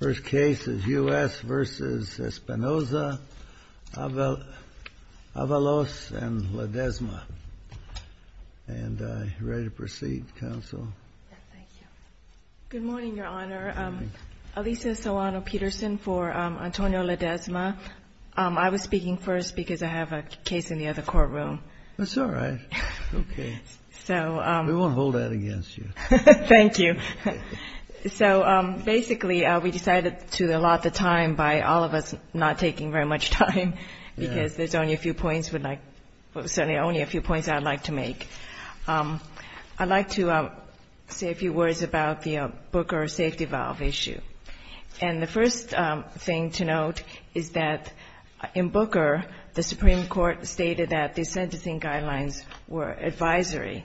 First case is U.S. v. Espinoza, Avalos, and Ledesma. Ready to proceed, counsel? Good morning, your honor. Alisa Soano-Peterson for Antonio Ledesma. I was speaking first because I have a case in the other courtroom. That's all right. We won't hold that against you. Thank you. So basically, we decided to allot the time by all of us not taking very much time because there's only a few points I'd like to make. I'd like to say a few words about the Booker safety valve issue. And the first thing to note is that in Booker, the Supreme Court stated that the sentencing guidelines were advisory.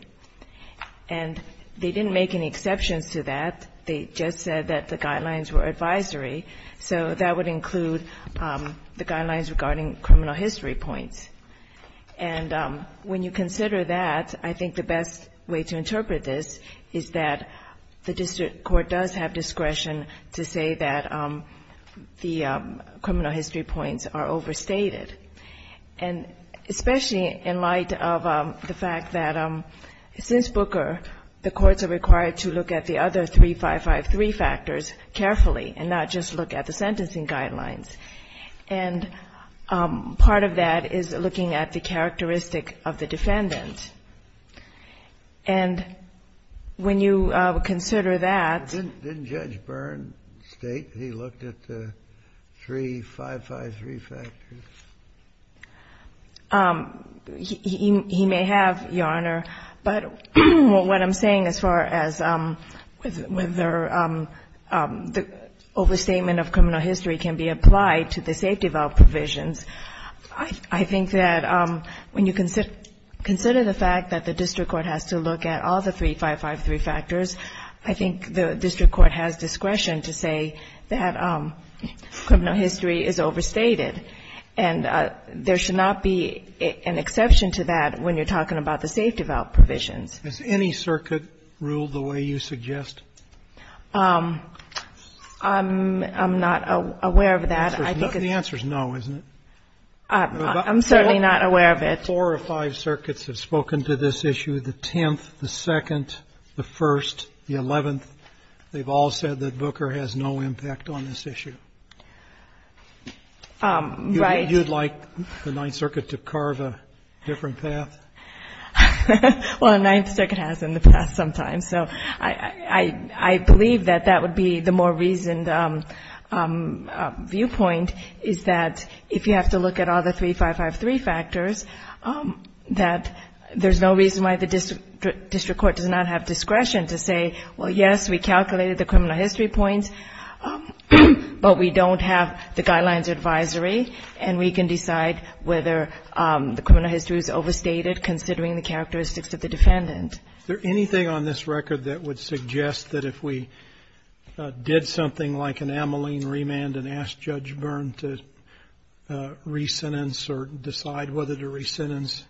And they didn't make any exceptions to that. They just said that the guidelines were advisory. So that would include the guidelines regarding criminal history points. And when you consider that, I think the best way to interpret this is that the district court does have discretion to say that the criminal history points are overstated. And especially in light of the fact that since Booker, the courts are required to look at the other 3553 factors carefully and not just look at the sentencing guidelines. And part of that is looking at the characteristic of the defendant. And when you consider that — Didn't Judge Byrne state he looked at the 3553 factors? He may have, Your Honor. But what I'm saying as far as whether the overstatement of criminal history can be applied to the safety valve provisions, I think that when you consider the fact that the district court has to look at all the 3553 factors, I think the district court has discretion to say that criminal history is overstated. And there should not be an exception to that when you're talking about the safety valve provisions. Has any circuit ruled the way you suggest? I'm not aware of that. The answer is no, isn't it? I'm certainly not aware of it. Four or five circuits have spoken to this issue, the 10th, the 2nd, the 1st, the 11th. They've all said that Booker has no impact on this issue. Right. You'd like the Ninth Circuit to carve a different path? Well, the Ninth Circuit has in the past sometimes. So I believe that that would be the more reasoned viewpoint, is that if you have to look at all the 3553 factors, that there's no reason why the district court does not have discretion to say, well, yes, we calculated the criminal history points, but we don't have the guidelines advisory, and we can decide whether the criminal history is overstated, considering the characteristics of the defendant. Is there anything on this record that would suggest that if we did something like an amyline remand and asked Judge Byrne to re-sentence or decide whether to re-sentence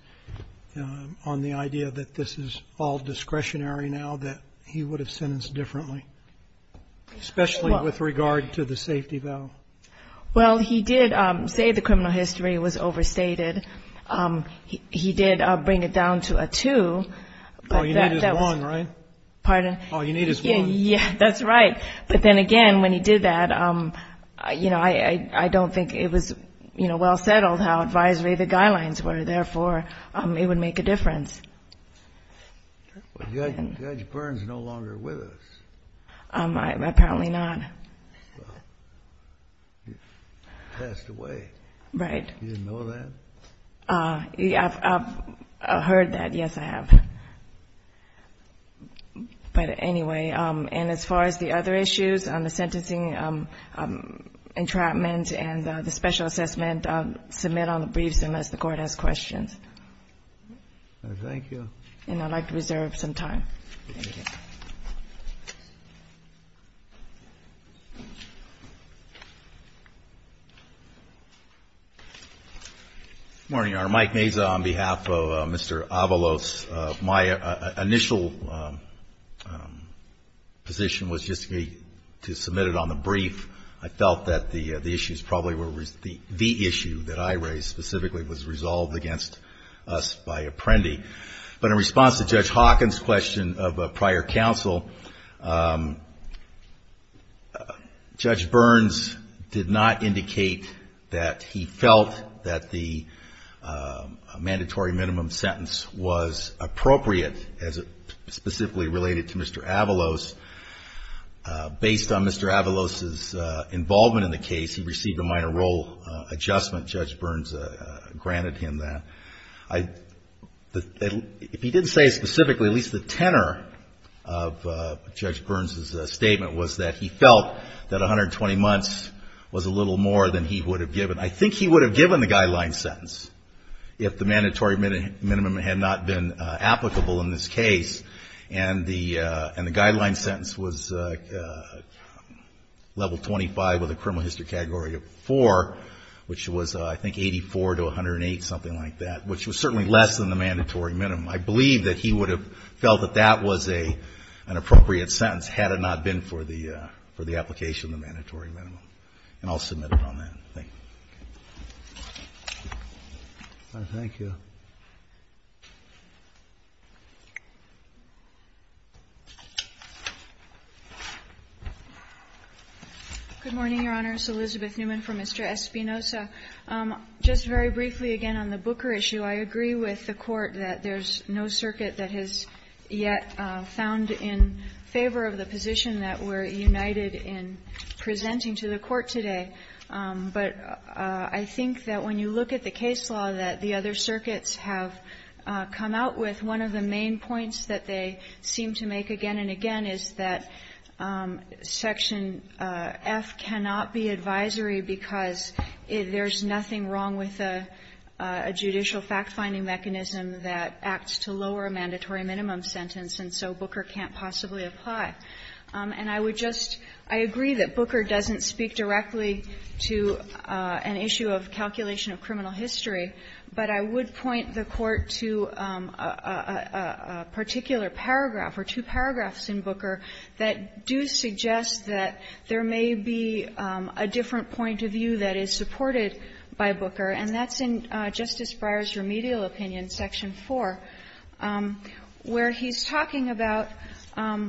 on the idea that this is all discretionary now, that he would have sentenced differently, especially with regard to the safety valve? Well, he did say the criminal history was overstated. He did bring it down to a two. All you need is one, right? Pardon? All you need is one. Yeah, that's right. But then again, when he did that, you know, I don't think it was, you know, it was all settled how advisory the guidelines were. Therefore, it would make a difference. Well, Judge Byrne's no longer with us. Apparently not. He passed away. Right. You didn't know that? I've heard that, yes, I have. But anyway, and as far as the other issues on the sentencing entrapment and the special assessment, submit on the briefs unless the Court has questions. Thank you. And I'd like to reserve some time. Thank you. Good morning, Your Honor. Mike Meza on behalf of Mr. Avalos. My initial position was just to be to submit it on the brief. I felt that the issues probably were the issue that I raised specifically was resolved against us by Apprendi. But in response to Judge Hawkins' question of prior counsel, Judge Byrne's did not indicate that he felt that the mandatory minimum sentence was appropriate, specifically related to Mr. Avalos. Based on Mr. Avalos' involvement in the case, he received a minor role adjustment. Judge Byrne's granted him that. If he didn't say specifically, at least the tenor of Judge Byrne's statement was that he felt that 120 months was a little more than he would have given. I think he would have given the guideline sentence if the mandatory minimum had not been applicable in this case, and the guideline sentence was level 25 of the criminal history category of 4, which was, I think, 84 to 108, something like that, which was certainly less than the mandatory minimum. I believe that he would have felt that that was an appropriate sentence had it not been for the application of the mandatory minimum. And I'll submit it on that. Thank you. Thank you. Good morning, Your Honors. Elizabeth Newman for Mr. Espinoza. Just very briefly, again, on the Booker issue, I agree with the Court that there's no circuit that has yet found in favor of the position that we're united in presenting to the Court today, but I think that when you look at the case law that the other circuits have come out with, one of the main points that they seem to make again and again is that Section F cannot be advisory because there's nothing wrong with a judicial fact-finding mechanism that acts to lower a mandatory minimum sentence, and so Booker can't possibly apply. And I would just — I agree that Booker doesn't speak directly to an issue of calculation of criminal history, but I would point the Court to a particular paragraph or two paragraphs in Booker that do suggest that there may be a different point of view that is supported by Booker, and that's in Justice Breyer's remedial opinion, Section 4, where he's talking about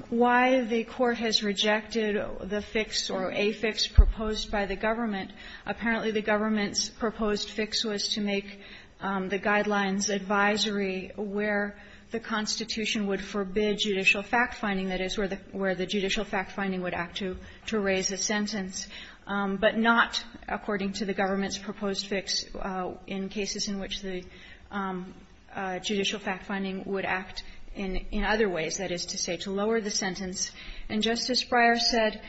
why the Court has rejected the fix or a fix proposed by the government. Apparently, the government's proposed fix was to make the Guidelines advisory where the Constitution would forbid judicial fact-finding, that is, where the judicial fact-finding would act to raise a sentence, but not, according to the government's proposed fix, in cases in which the judicial fact-finding would act in other ways, that is to say, to lower the sentence. And Justice Breyer said,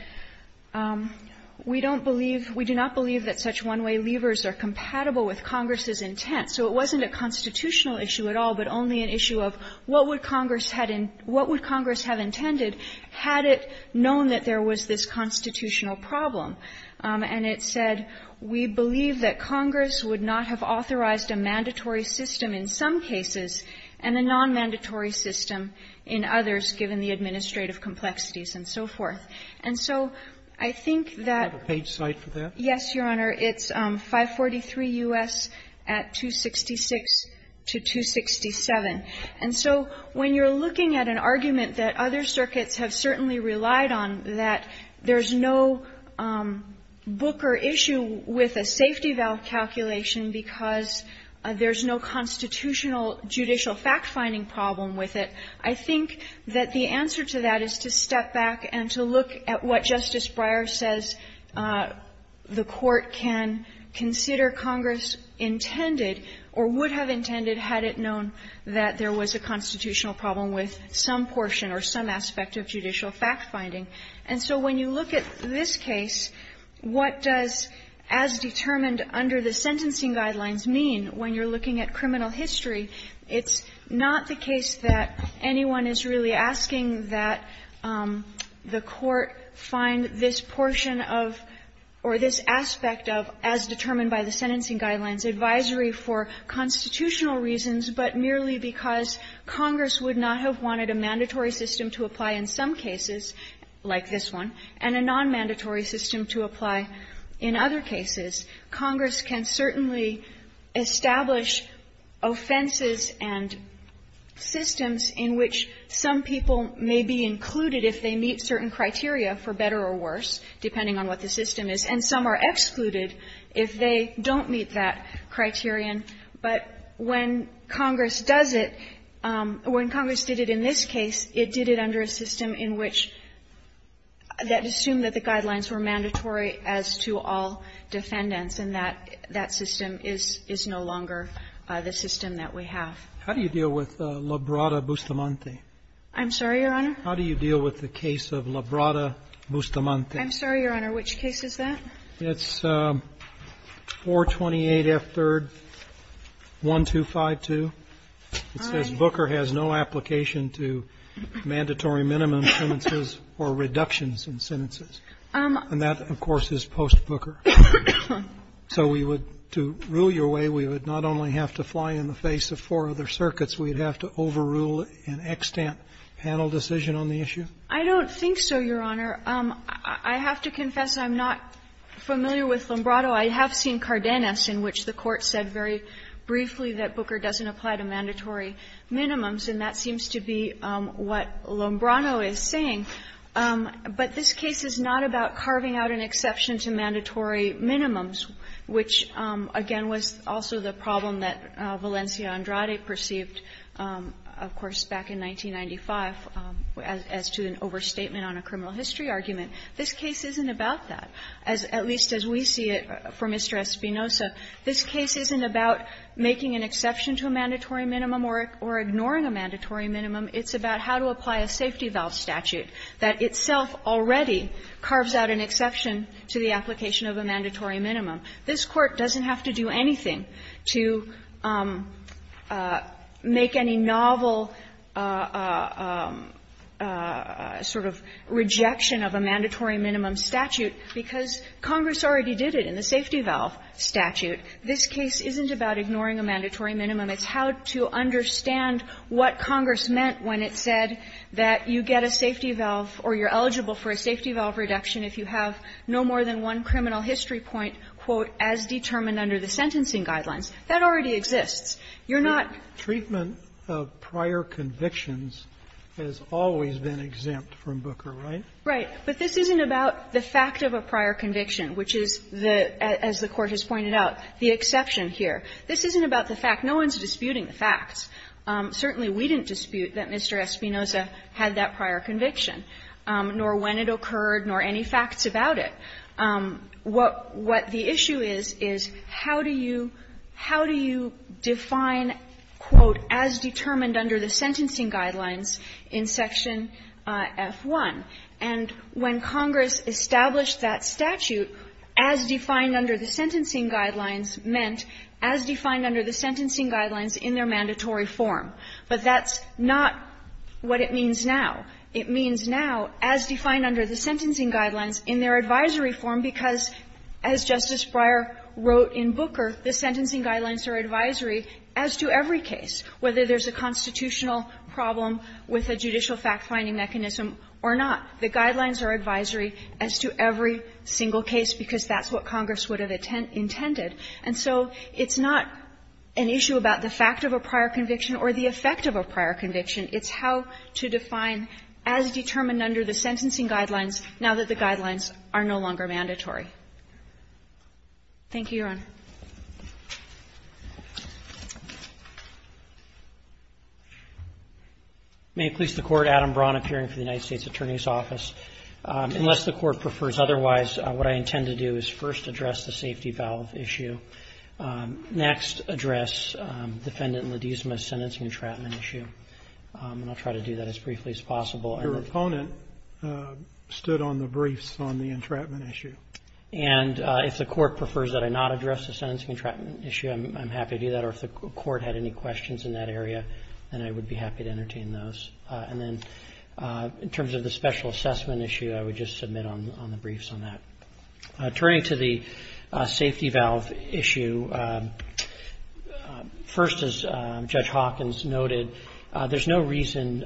we don't believe, we do not believe that such one-way levers are compatible with Congress's intent. So it wasn't a constitutional issue at all, but only an issue of what would Congress had in — what would Congress have intended had it known that there was this constitutional problem. And it said, we believe that Congress would not have authorized a mandatory system in some cases and a non-mandatory system in others, given the administrative complexities and so forth. And so I think that the page site for that? Yes, Your Honor. It's 543 U.S. at 266 to 267. And so when you're looking at an argument that other circuits have certainly relied on, that there's no Booker issue with a safety valve calculation because there's no constitutional judicial fact-finding problem with it, I think that the answer to that is to step back and to look at what Justice Breyer says the Court can consider Congress intended, or would have intended had it known that there was a constitutional problem with some portion or some aspect of judicial fact-finding. And so when you look at this case, what does as determined under the sentencing guidelines mean when you're looking at criminal history? It's not the case that anyone is really asking that the Court find this portion of or this aspect of as determined by the sentencing guidelines advisory for constitutional reasons, but merely because Congress would not have wanted a mandatory system to apply in some cases, like this one, and a nonmandatory system to apply in other cases. Congress can certainly establish offenses and systems in which some people may be included if they meet certain criteria, for better or worse, depending on what the system is, and some are excluded if they don't meet that criterion. But when Congress does it, when Congress did it in this case, it did it under a system in which that assumed that the guidelines were mandatory as to all defendants, and that system is no longer the system that we have. How do you deal with Labrada-Bustamante? I'm sorry, Your Honor? How do you deal with the case of Labrada-Bustamante? I'm sorry, Your Honor. Which case is that? It's 428F3-1252. It says Booker has no application to mandatory minimum sentences or reductions in sentences. And that, of course, is post-Booker. So we would to rule your way, we would not only have to fly in the face of four other circuits, we'd have to overrule an extant panel decision on the issue? I don't think so, Your Honor. I have to confess I'm not familiar with Lombrado. I have seen Cardenas, in which the Court said very briefly that Booker doesn't apply to mandatory minimums, and that seems to be what Lombrado is saying. But this case is not about carving out an exception to mandatory minimums, which, again, was also the problem that Valencia-Andrade perceived, of course, back in 1995 as to an overstatement on a criminal history argument. This case isn't about that, at least as we see it for Mr. Espinoza. This case isn't about making an exception to a mandatory minimum or ignoring a mandatory minimum. It's about how to apply a safety valve statute that itself already carves out an exception to the application of a mandatory minimum. This Court doesn't have to do anything to make any novel sort of rejection of a mandatory minimum statute, because Congress already did it in the safety valve statute. This case isn't about ignoring a mandatory minimum. It's how to understand what Congress meant when it said that you get a safety valve or you're eligible for a safety valve reduction if you have no more than one criminal history point, quote, as determined under the sentencing guidelines. That already exists. You're not ---- Roberts, Treatment of prior convictions has always been exempt from Booker, right? Right. But this isn't about the fact of a prior conviction, which is the, as the Court has pointed out, the exception here. This isn't about the fact. No one is disputing the facts. Certainly we didn't dispute that Mr. Espinoza had that prior conviction, nor when it occurred, nor any facts about it. What the issue is, is how do you define, quote, as determined under the sentencing guidelines in Section F-1? And when Congress established that statute, as defined under the sentencing guidelines meant as defined under the sentencing guidelines in their mandatory form. But that's not what it means now. It means now, as defined under the sentencing guidelines in their advisory form, because as Justice Breyer wrote in Booker, the sentencing guidelines are advisory as to every case, whether there's a constitutional problem with a judicial fact-finding mechanism or not. The guidelines are advisory as to every single case, because that's what Congress would have intended. And so it's not an issue about the fact of a prior conviction or the effect of a prior conviction. It's how to define as determined under the sentencing guidelines, now that the guidelines are no longer mandatory. Thank you, Your Honor. Roberts. May it please the Court, Adam Braun, appearing for the United States Attorney's Office. Unless the Court prefers otherwise, what I intend to do is first address the safety valve issue, next address Defendant Ledesma's sentencing entrapment issue. And I'll try to do that as briefly as possible. Your opponent stood on the briefs on the entrapment issue. And if the Court prefers that I not address the sentencing entrapment issue, I'm happy to do that. Or if the Court had any questions in that area, then I would be happy to entertain those. And then in terms of the special assessment issue, I would just submit on the briefs on that. Turning to the safety valve issue, first, as Judge Hawkins noted, the sentencing guidelines are not mandatory. There's no reason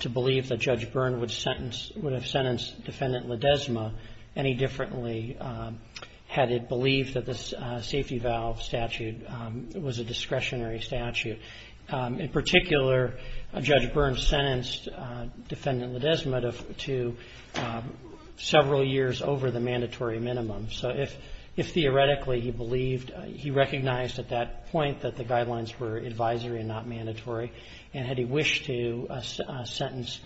to believe that Judge Byrne would have sentenced Defendant Ledesma any differently had it believed that this safety valve statute was a discretionary statute. In particular, Judge Byrne sentenced Defendant Ledesma to several years over the mandatory minimum. So if theoretically he believed, he recognized at that point that the guidelines were advisory and not mandatory, and had he wished to sentence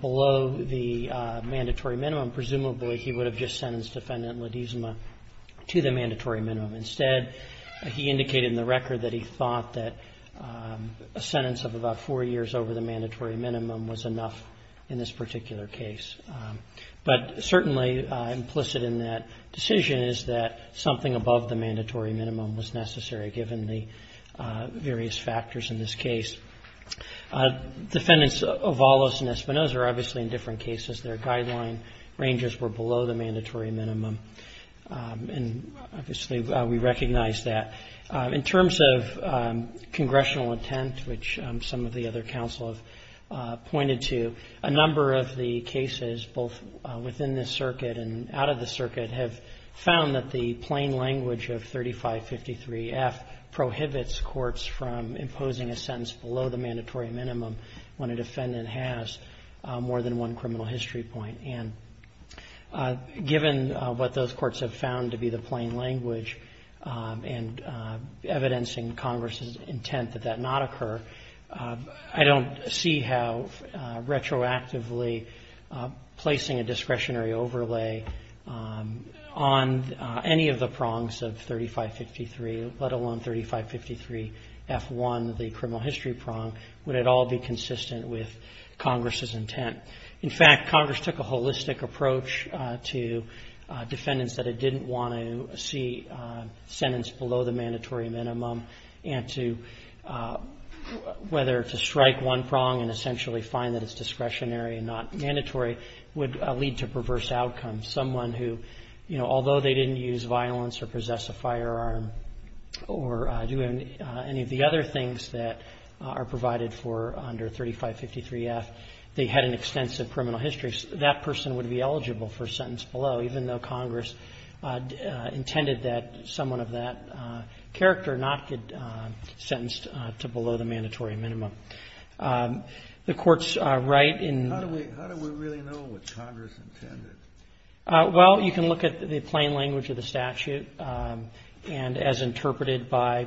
below the mandatory minimum, presumably he would have just sentenced Defendant Ledesma to the mandatory minimum. Instead, he indicated in the record that he thought that a sentence of about four years over the mandatory minimum was enough in this particular case. But certainly implicit in that decision is that something above the mandatory minimum was necessary given the various factors in this case. Defendants Avalos and Espinoza are obviously in different cases. Their guideline ranges were below the mandatory minimum, and obviously we recognize that. In terms of congressional intent, which some of the other counsel have pointed to, a number of the cases, both within this circuit and out of the circuit, have found that the plain language of 3553F prohibits courts from imposing a sentence below the mandatory minimum when a defendant has more than one criminal history point. And given what those courts have found to be the plain language and evidencing Congress's intent that that not occur, I don't see how retroactively placing a discretionary overlay on any of the prongs of 3553, let alone 3553F1, the criminal history prong, would at all be consistent with Congress's intent. In fact, Congress took a holistic approach to defendants that it didn't want to see sentenced below the mandatory minimum and to whether to strike one prong and essentially find that it's discretionary and not mandatory would lead to perverse outcomes. Someone who, you know, although they didn't use violence or possess a firearm or do any of the other things that are provided for under 3553F, they had an extensive criminal history, that person would be eligible for sentence below, even though Congress intended that someone of that character not get sentenced to below the mandatory minimum. The courts write in the law. Kennedy. How do we really know what Congress intended? Well, you can look at the plain language of the statute and as interpreted by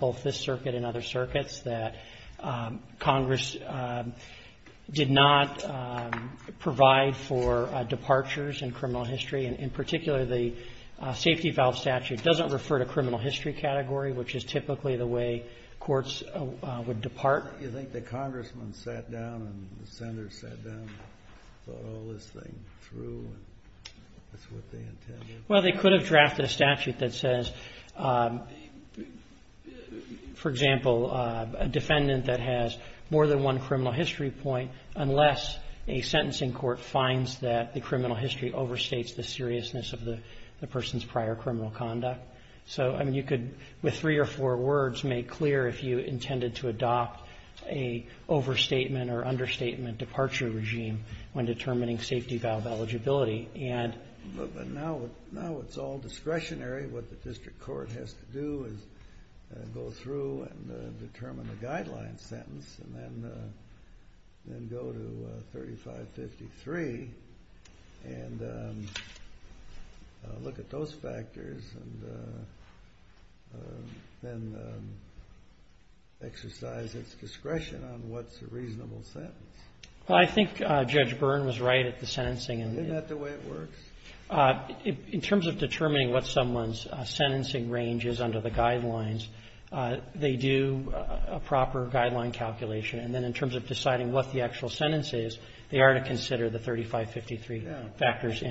both this circuit and other circuits, that Congress did not provide for departures in criminal history, and in particular, the safety valve statute doesn't refer to criminal history. I think the Congressmen sat down and the Senators sat down and thought all this thing through and that's what they intended. Well, they could have drafted a statute that says, for example, a defendant that has more than one criminal history point unless a sentencing court finds that the criminal history overstates the seriousness of the person's prior criminal conduct. So, I mean, you could, with three or four words, make clear if you intended to adopt a overstatement or understatement departure regime when determining safety valve eligibility. But now it's all discretionary. What the district court has to do is go through and determine the guideline sentence and then go to 3553 and look at those factors and determine whether or not the person is eligible for that, and then exercise its discretion on what's a reasonable sentence. Well, I think Judge Byrne was right at the sentencing. Isn't that the way it works? In terms of determining what someone's sentencing range is under the guidelines, they do a proper guideline calculation, and then in terms of deciding what the actual sentence is, they are to consider the 3553 factors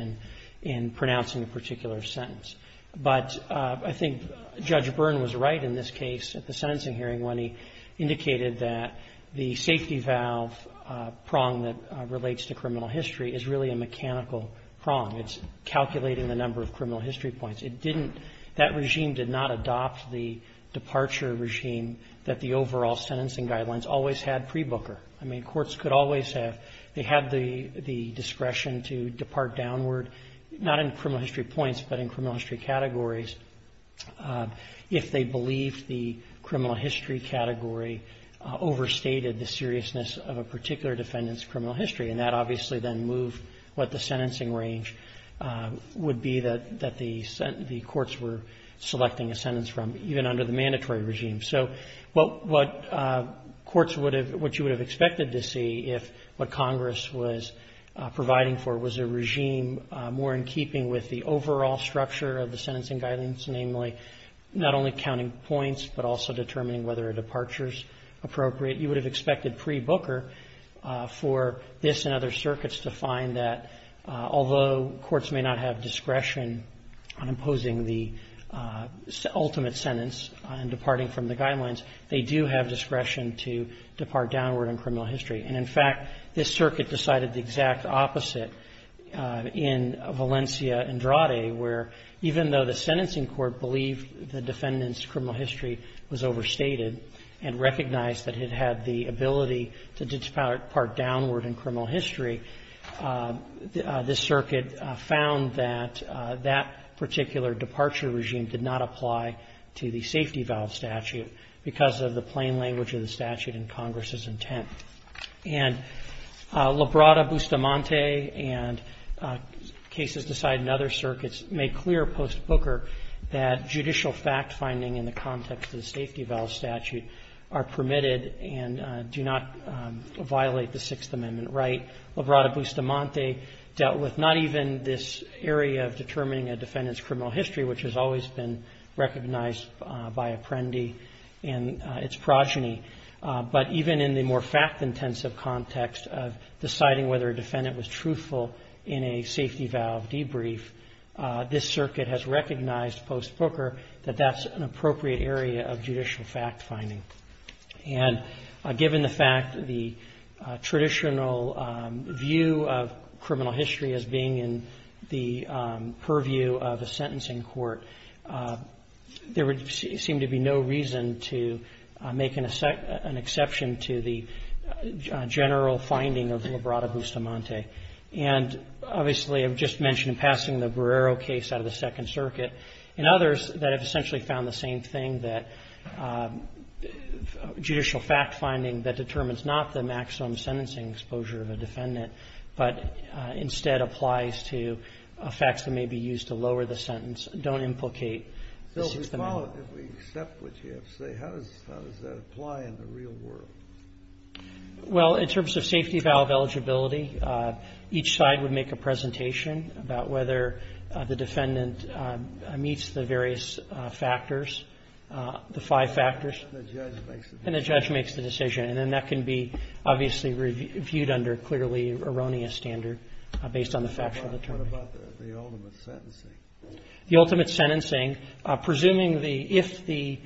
in pronouncing a particular sentence. But I think Judge Byrne was right in this case at the sentencing hearing when he indicated that the safety valve prong that relates to criminal history is really a mechanical prong. It's calculating the number of criminal history points. It didn't – that regime did not adopt the departure regime that the overall sentencing guidelines always had pre-Booker. I mean, courts could always have – they had the discretion to depart downward not in criminal history points but in criminal history categories if they believed the criminal history category overstated the seriousness of a particular defendant's criminal history. And that obviously then moved what the sentencing range would be that the courts were selecting a sentence from even under the mandatory regime. So what courts would have – what you would have expected to see if what Congress was adopting was a regime more in keeping with the overall structure of the sentencing guidelines, namely not only counting points but also determining whether a departure is appropriate, you would have expected pre-Booker for this and other circuits to find that although courts may not have discretion on imposing the ultimate sentence and departing from the guidelines, they do have discretion to depart downward in criminal history. And, in fact, this circuit decided the exact opposite in Valencia and Drade, where even though the sentencing court believed the defendant's criminal history was overstated and recognized that it had the ability to depart downward in criminal history, this circuit found that that particular departure regime did not apply to the safety valve statute because of the plain language of the statute in Congress's intent. And Labrada-Bustamante and cases decided in other circuits made clear post-Booker that judicial fact-finding in the context of the safety valve statute are permitted and do not violate the Sixth Amendment right. Labrada-Bustamante dealt with not even this area of determining a defendant's criminal history, which has always been recognized by Apprendi and its progeny, but even in the more fact-intensive context of deciding whether a defendant was truthful in a safety valve debrief, this circuit has recognized post-Booker that that's an appropriate area of judicial fact-finding. And given the fact that the traditional view of criminal history as being in the purview of a sentencing court, there would seem to be no reason to make an exception to the general finding of Labrada-Bustamante. And obviously, I've just mentioned passing the Guerrero case out of the Second Circuit and others that have essentially found the same thing, that judicial fact-finding that determines not the maximum sentencing exposure of a defendant, but instead applies to facts that may be used to lower the sentence, don't implicate the Sixth Amendment. Kennedy. So if we accept what you have to say, how does that apply in the real world? Labrada-Bustamante. Well, in terms of safety valve eligibility, each side would make a presentation about whether the defendant meets the various factors, the five factors. Kennedy. And the judge makes the decision. Labrada-Bustamante. And the judge makes the decision. And then that can be obviously reviewed under clearly erroneous standard based on the factual determining. Kennedy. What about the ultimate sentencing? Labrada-Bustamante. The ultimate sentencing, presuming the, if the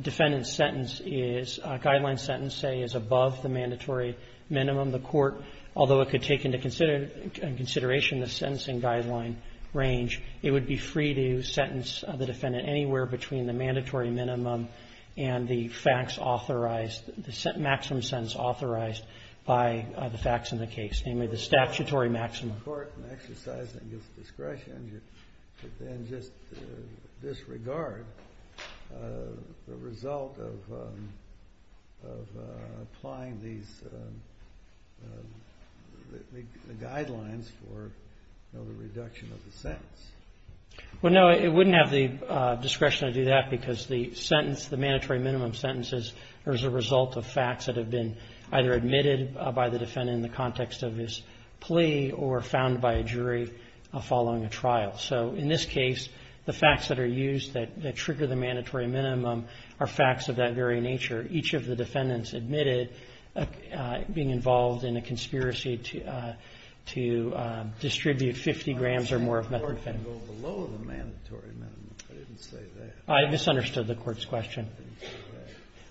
defendant's sentence is, guideline sentence, say, is above the mandatory minimum, the court, although it could take into consideration the sentencing guideline range, it would be free to sentence the defendant anywhere between the mandatory minimum and the facts authorized, the maximum sentence authorized by the facts in the case, namely the statutory maximum. Kennedy. The court can exercise that discretion, but then just disregard the result of applying these guidelines for the reduction of the sentence. Labrada-Bustamante. Well, no, it wouldn't have the discretion to do that because the sentence, the mandatory minimum sentences are as a result of facts that have been either admitted by the defendant in the context of his plea or found by a jury following a trial. So in this case, the facts that are used that trigger the mandatory minimum are facts of that very nature. Each of the defendants admitted being involved in a conspiracy to distribute 50 grams or more of methamphetamine. Kennedy. I'm saying the court can go below the mandatory minimum. I didn't say that. Labrada-Bustamante. I misunderstood the court's question.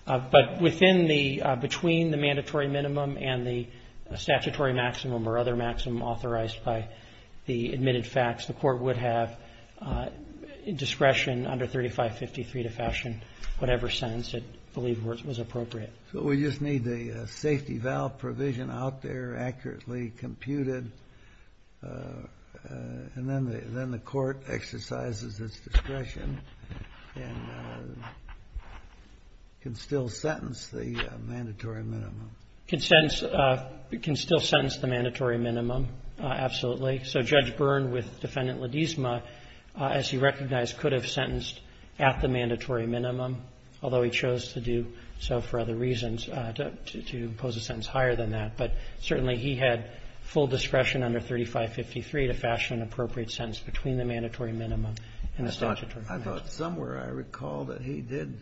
But within the, between the mandatory minimum and the statutory maximum or other maximum authorized by the admitted facts, the court would have discretion under 3553 to fashion whatever sentence it believed was appropriate. Kennedy. So we just need the safety valve provision out there accurately computed, and then the court exercises its discretion and can still sentence the mandatory minimum? Labrada-Bustamante. Can still sentence the mandatory minimum, absolutely. So Judge Byrne with Defendant Ledezma, as he recognized, could have sentenced at the mandatory minimum, although he chose to do so for other reasons, to impose a sentence higher than that. But certainly he had full discretion under 3553 to fashion an appropriate sentence between the mandatory minimum and the statutory maximum. Kennedy. I thought somewhere I recall that he did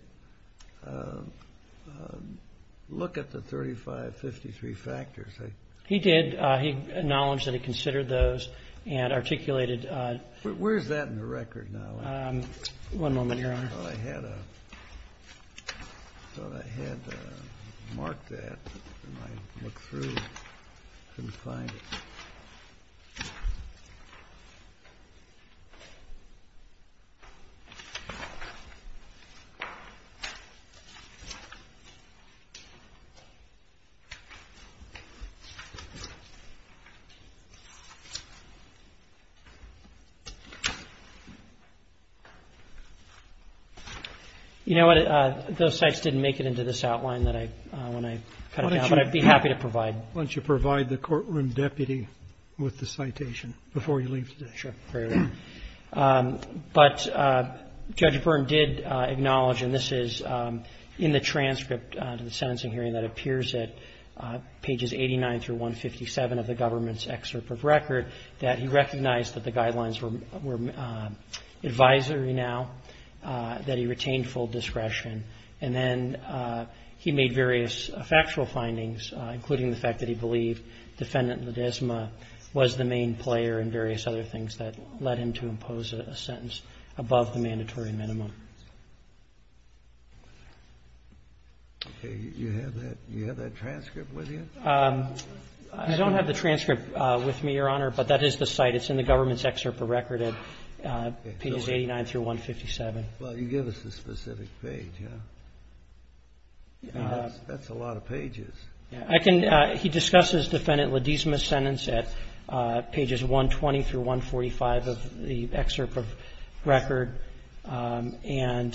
look at the 3553 factors. He did. He acknowledged that he considered those and articulated. Where's that in the record now? One moment, Your Honor. I thought I had marked that. I couldn't find it. You know what? Those sites didn't make it into this outline when I cut it out, but I'd be happy to provide. Why don't you provide the courtroom deputy with the citation before you leave today? Sure. But Judge Byrne did acknowledge, and this is in the transcript of the sentencing hearing that appears at pages 89 through 157 of the government's excerpt of record, that he recognized that the guidelines were advisory now, that he retained full discretion. And then he made various factual findings, including the fact that he believed Defendant Ledezma was the main player and various other things that led him to impose a sentence above the mandatory minimum. Okay. You have that transcript with you? I don't have the transcript with me, Your Honor, but that is the site. It's in the government's excerpt of record at pages 89 through 157. Well, you give us the specific page. That's a lot of pages. He discusses Defendant Ledezma's sentence at pages 120 through 145 of the excerpt of record and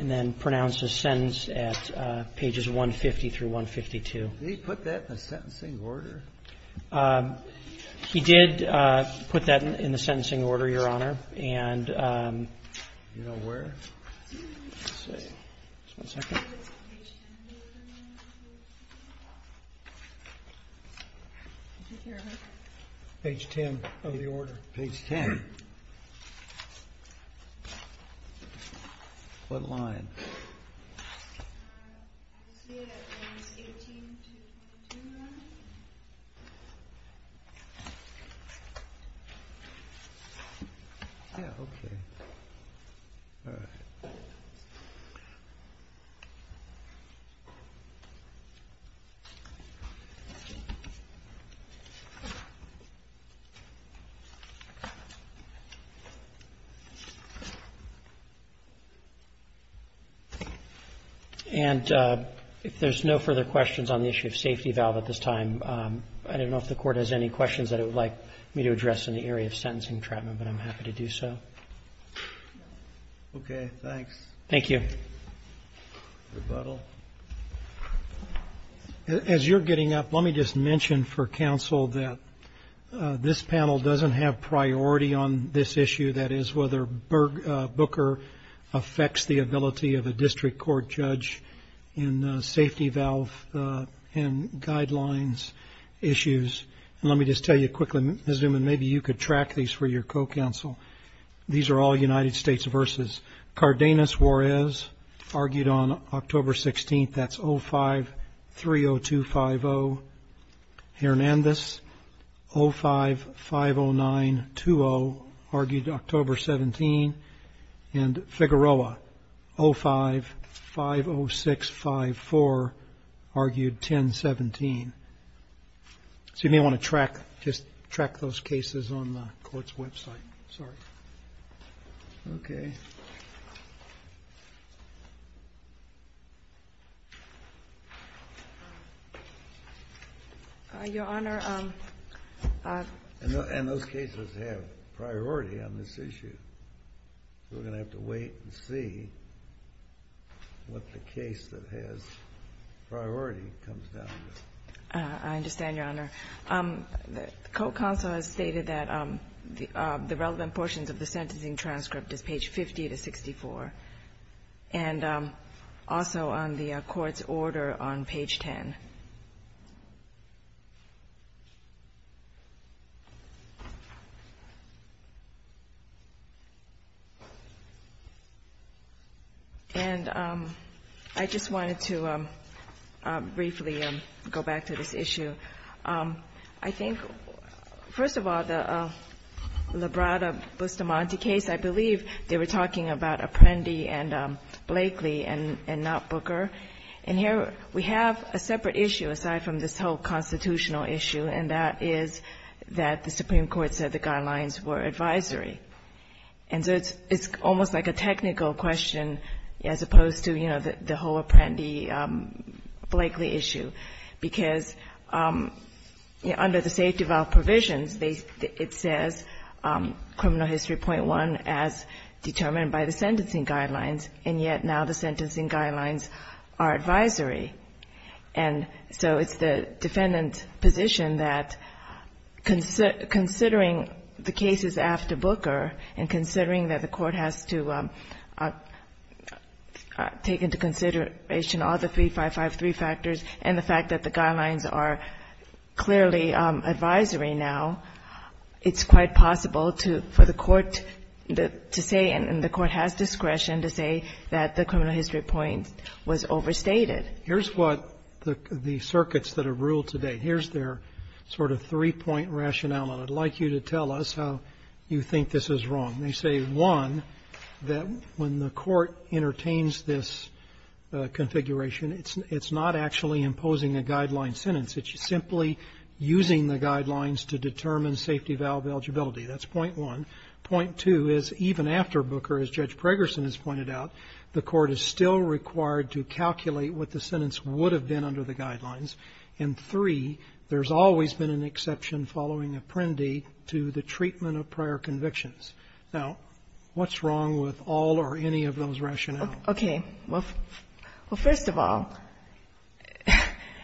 then pronounces sentence at pages 150 through 152. Did he put that in the sentencing order? He did put that in the sentencing order, Your Honor. Do you know where? Just a second. Page 10 of the order. Page 10. What line? Yeah, okay. All right. And if there's no further questions on the issue of safety valve at this time, I don't know if the Court has any questions that it would like me to address in the area of sentencing treatment, but I'm happy to do so. Okay, thanks. Thank you. Rebuttal. As you're getting up, let me just mention for counsel that this panel doesn't have priority on this issue, that is, whether Booker affects the ability of a district court judge in safety valve and your co-counsel. These are all United States versus Cardenas, Juarez argued on October 16th. That's 05-302-50. Hernandez 05-509-20 argued October 17 and Figueroa 05-506-54 argued 10-17. So you may want to track, just track those cases on the court's website. Sorry. Okay. Your Honor. And those cases have priority on this issue. We're going to have to wait and see what the case that has priority comes down to. I understand, Your Honor. The co-counsel has stated that the relevant portions of the sentencing transcript is page 50-64 and also on the court's order on page 10. And I just wanted to briefly go back to this issue. I think, first of all, the Labrada-Bustamante case, I believe they were talking about Apprendi and Blakely and not Booker. And here we have a separate issue aside from this whole constitutional issue, and that is that the Supreme Court said the guidelines were advisory. And so it's almost like a technical question as opposed to, you know, the whole Apprendi-Blakely issue. Because, you know, under the safe-developed provisions, it says Criminal History 0.1 as determined by the sentencing guidelines, and yet now the sentencing guidelines are advisory. And so it's the defendant's position that considering the cases after Booker and considering that the court has to take into consideration all the 3553 factors and the fact that the guidelines are clearly advisory now, it's quite possible for the court to say, and the court has discretion to say, that the criminal history point was overstated. Here's what the circuits that have ruled today, here's their sort of three-point rationale, and I'd like you to tell us how you think this is wrong. They say, one, that when the court entertains this configuration, it's not actually imposing a guideline sentence. It's simply using the guidelines to determine safety valve eligibility. That's point one. Point two is, even after Booker, as Judge Pragerson has pointed out, the court is still required to calculate what the sentence would have been under the guidelines. And three, there's always been an exception following Apprendi to the treatment of prior convictions. Now, what's wrong with all or any of those rationales? Okay. Well, first of all,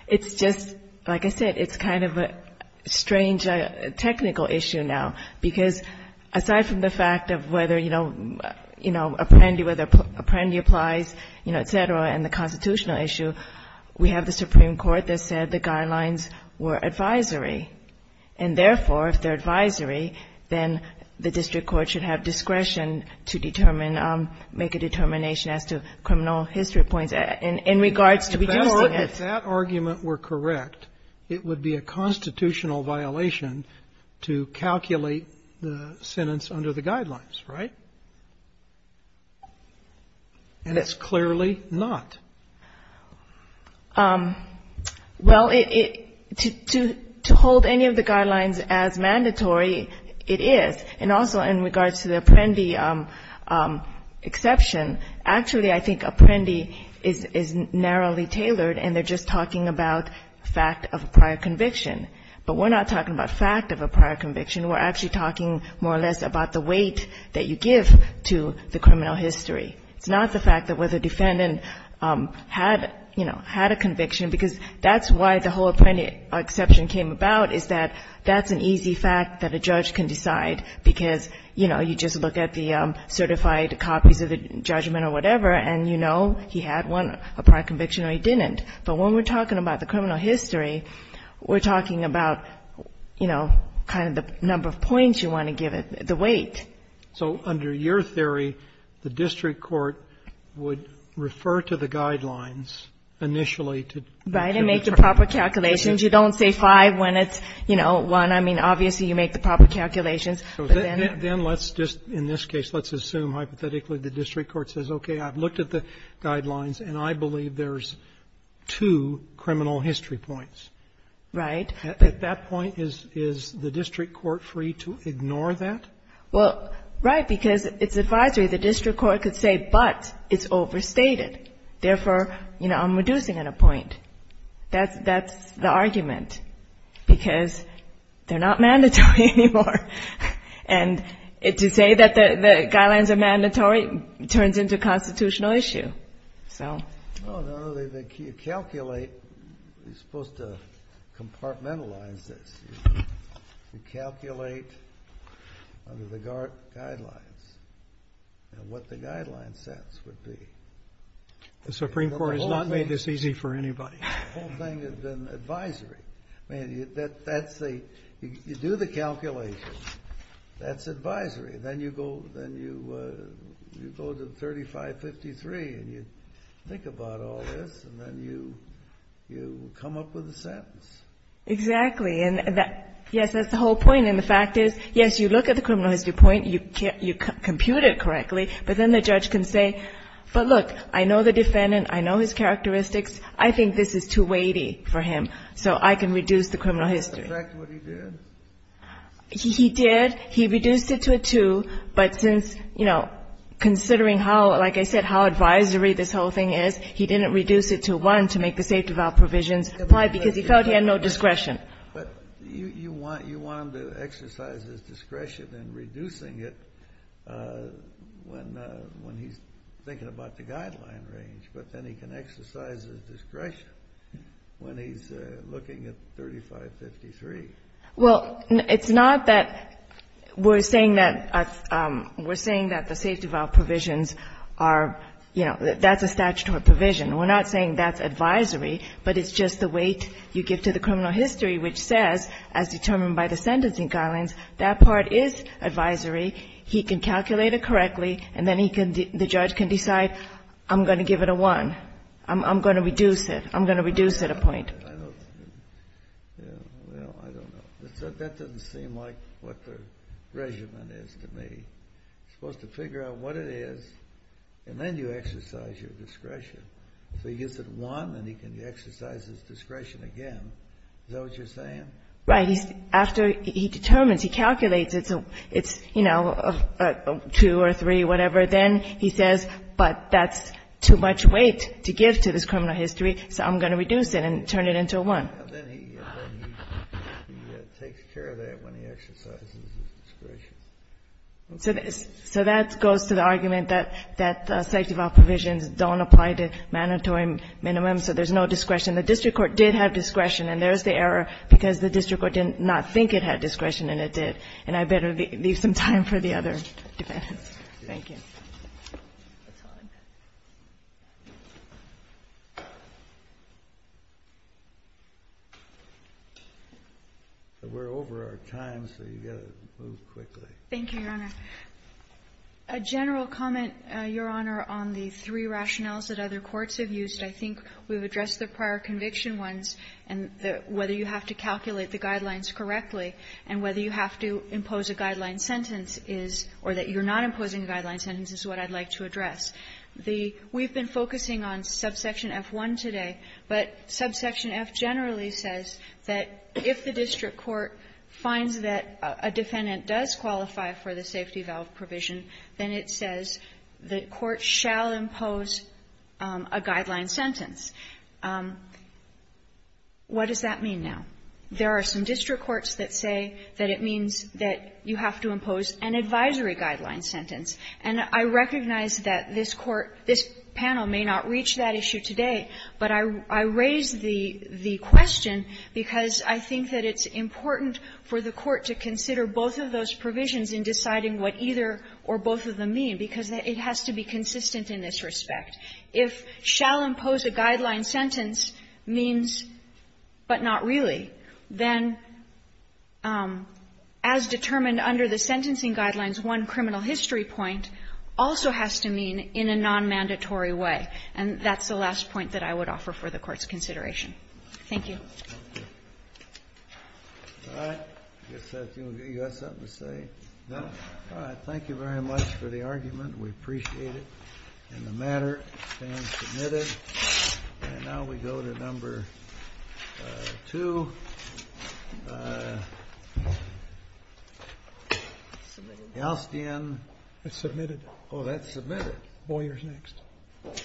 it's just, like I said, it's kind of a strange technical issue now, because aside from the fact of whether, you know, Apprendi applies, you know, et cetera, and the constitutional issue, we have the Supreme Court that said the guidelines were advisory. And therefore, if they're advisory, then the district court should have discretion to determine, make a determination as to criminal history points in regards to reducing it. If that argument were correct, it would be a constitutional violation to calculate the sentence under the guidelines, right? And it's clearly not. Well, it to hold any of the guidelines as mandatory, it is. And also in regards to the Apprendi exception, actually, I think Apprendi is narrowly tailored, and they're just talking about fact of a prior conviction. But we're not talking about fact of a prior conviction. We're actually talking more or less about the weight that you give to the criminal history. It's not the fact that whether the defendant had, you know, had a conviction, because that's why the whole Apprendi exception came about, is that that's an easy fact that a judge can decide, because, you know, you just look at the certified copies of the judgment or whatever, and you know he had one, a prior conviction or he didn't. But when we're talking about the criminal history, we're talking about, you know, kind of the number of points you want to give it, the weight. So under your theory, the district court would refer to the guidelines initially to determine. Right, and make the proper calculations. You don't say five when it's, you know, one. I mean, obviously, you make the proper calculations. But then let's just, in this case, let's assume hypothetically the district court says, okay, I've looked at the guidelines, and I believe there's two criminal history points. Right. At that point, is the district court free to ignore that? Well, right, because it's advisory. The district court could say, but it's overstated. Therefore, you know, I'm reducing it a point. That's the argument, because they're not mandatory anymore. And to say that the guidelines are mandatory turns into a constitutional issue. So. No, no, they calculate. You're supposed to compartmentalize this. You calculate under the guidelines what the guideline sets would be. The Supreme Court has not made this easy for anybody. The whole thing has been advisory. I mean, that's the, you do the calculations. That's advisory. Then you go to 3553, and you think about all this, and then you come up with a sentence. Exactly. And that, yes, that's the whole point. And the fact is, yes, you look at the criminal history point, you compute it correctly, but then the judge can say, but look, I know the defendant. I know his characteristics. I think this is too weighty for him. So I can reduce the criminal history. Is that exactly what he did? He did. He reduced it to a two. But since, you know, considering how, like I said, how advisory this whole thing is, he didn't reduce it to one to make the safety of our provisions apply, because he felt he had no discretion. But you want him to exercise his discretion in reducing it when he's thinking about the guideline range. But then he can exercise his discretion when he's looking at 3553. Well, it's not that we're saying that the safety of our provisions are, you know, that's a statutory provision. We're not saying that's advisory, but it's just the weight you give to the criminal history, which says, as determined by the sentencing guidelines, that part is advisory. He can calculate it correctly, and then he can the judge can decide, I'm going to give it a one. I'm going to reduce it. I'm going to reduce it a point. I don't know. That doesn't seem like what the regimen is to me. You're supposed to figure out what it is, and then you exercise your discretion. So he gives it a one, and he can exercise his discretion again. Is that what you're saying? Right. After he determines, he calculates, it's, you know, a two or three, whatever. Then he says, but that's too much weight to give to this criminal history, so I'm going to reduce it and turn it into a one. Then he takes care of that when he exercises his discretion. So that goes to the argument that safety of our provisions don't apply to mandatory minimums, so there's no discretion. The district court did have discretion, and there's the error, because the district court did not think it had discretion, and it did. And I better leave some time for the other defendants. Thank you. We're over our time, so you've got to move quickly. Thank you, Your Honor. A general comment, Your Honor, on the three rationales that other courts have used. I think we've addressed the prior conviction ones, and whether you have to calculate the guidelines correctly, and whether you have to impose a guideline sentence is or that you're not imposing a guideline sentence is what I'd like to address. We've been focusing on subsection F1 today, but subsection F generally says that if the district court finds that a defendant does qualify for the safety valve provision, then it says the court shall impose a guideline sentence. What does that mean now? There are some district courts that say that it means that you have to impose an advisory guideline sentence. And I recognize that this Court, this panel may not reach that issue today, but I raise the question because I think that it's important for the Court to consider both of those provisions in deciding what either or both of them mean, because it has to be consistent in this respect. If shall impose a guideline sentence means, but not really, then as determined under the sentencing guidelines, one criminal history point also has to mean in a nonmandatory way. And that's the last point that I would offer for the Court's consideration. Thank you. All right. I guess you got something to say? No. All right. Thank you very much for the argument. We appreciate it. And the matter stands submitted. And now we go to number two, Galstian. It's submitted. Oh, that's submitted. Boyer's next.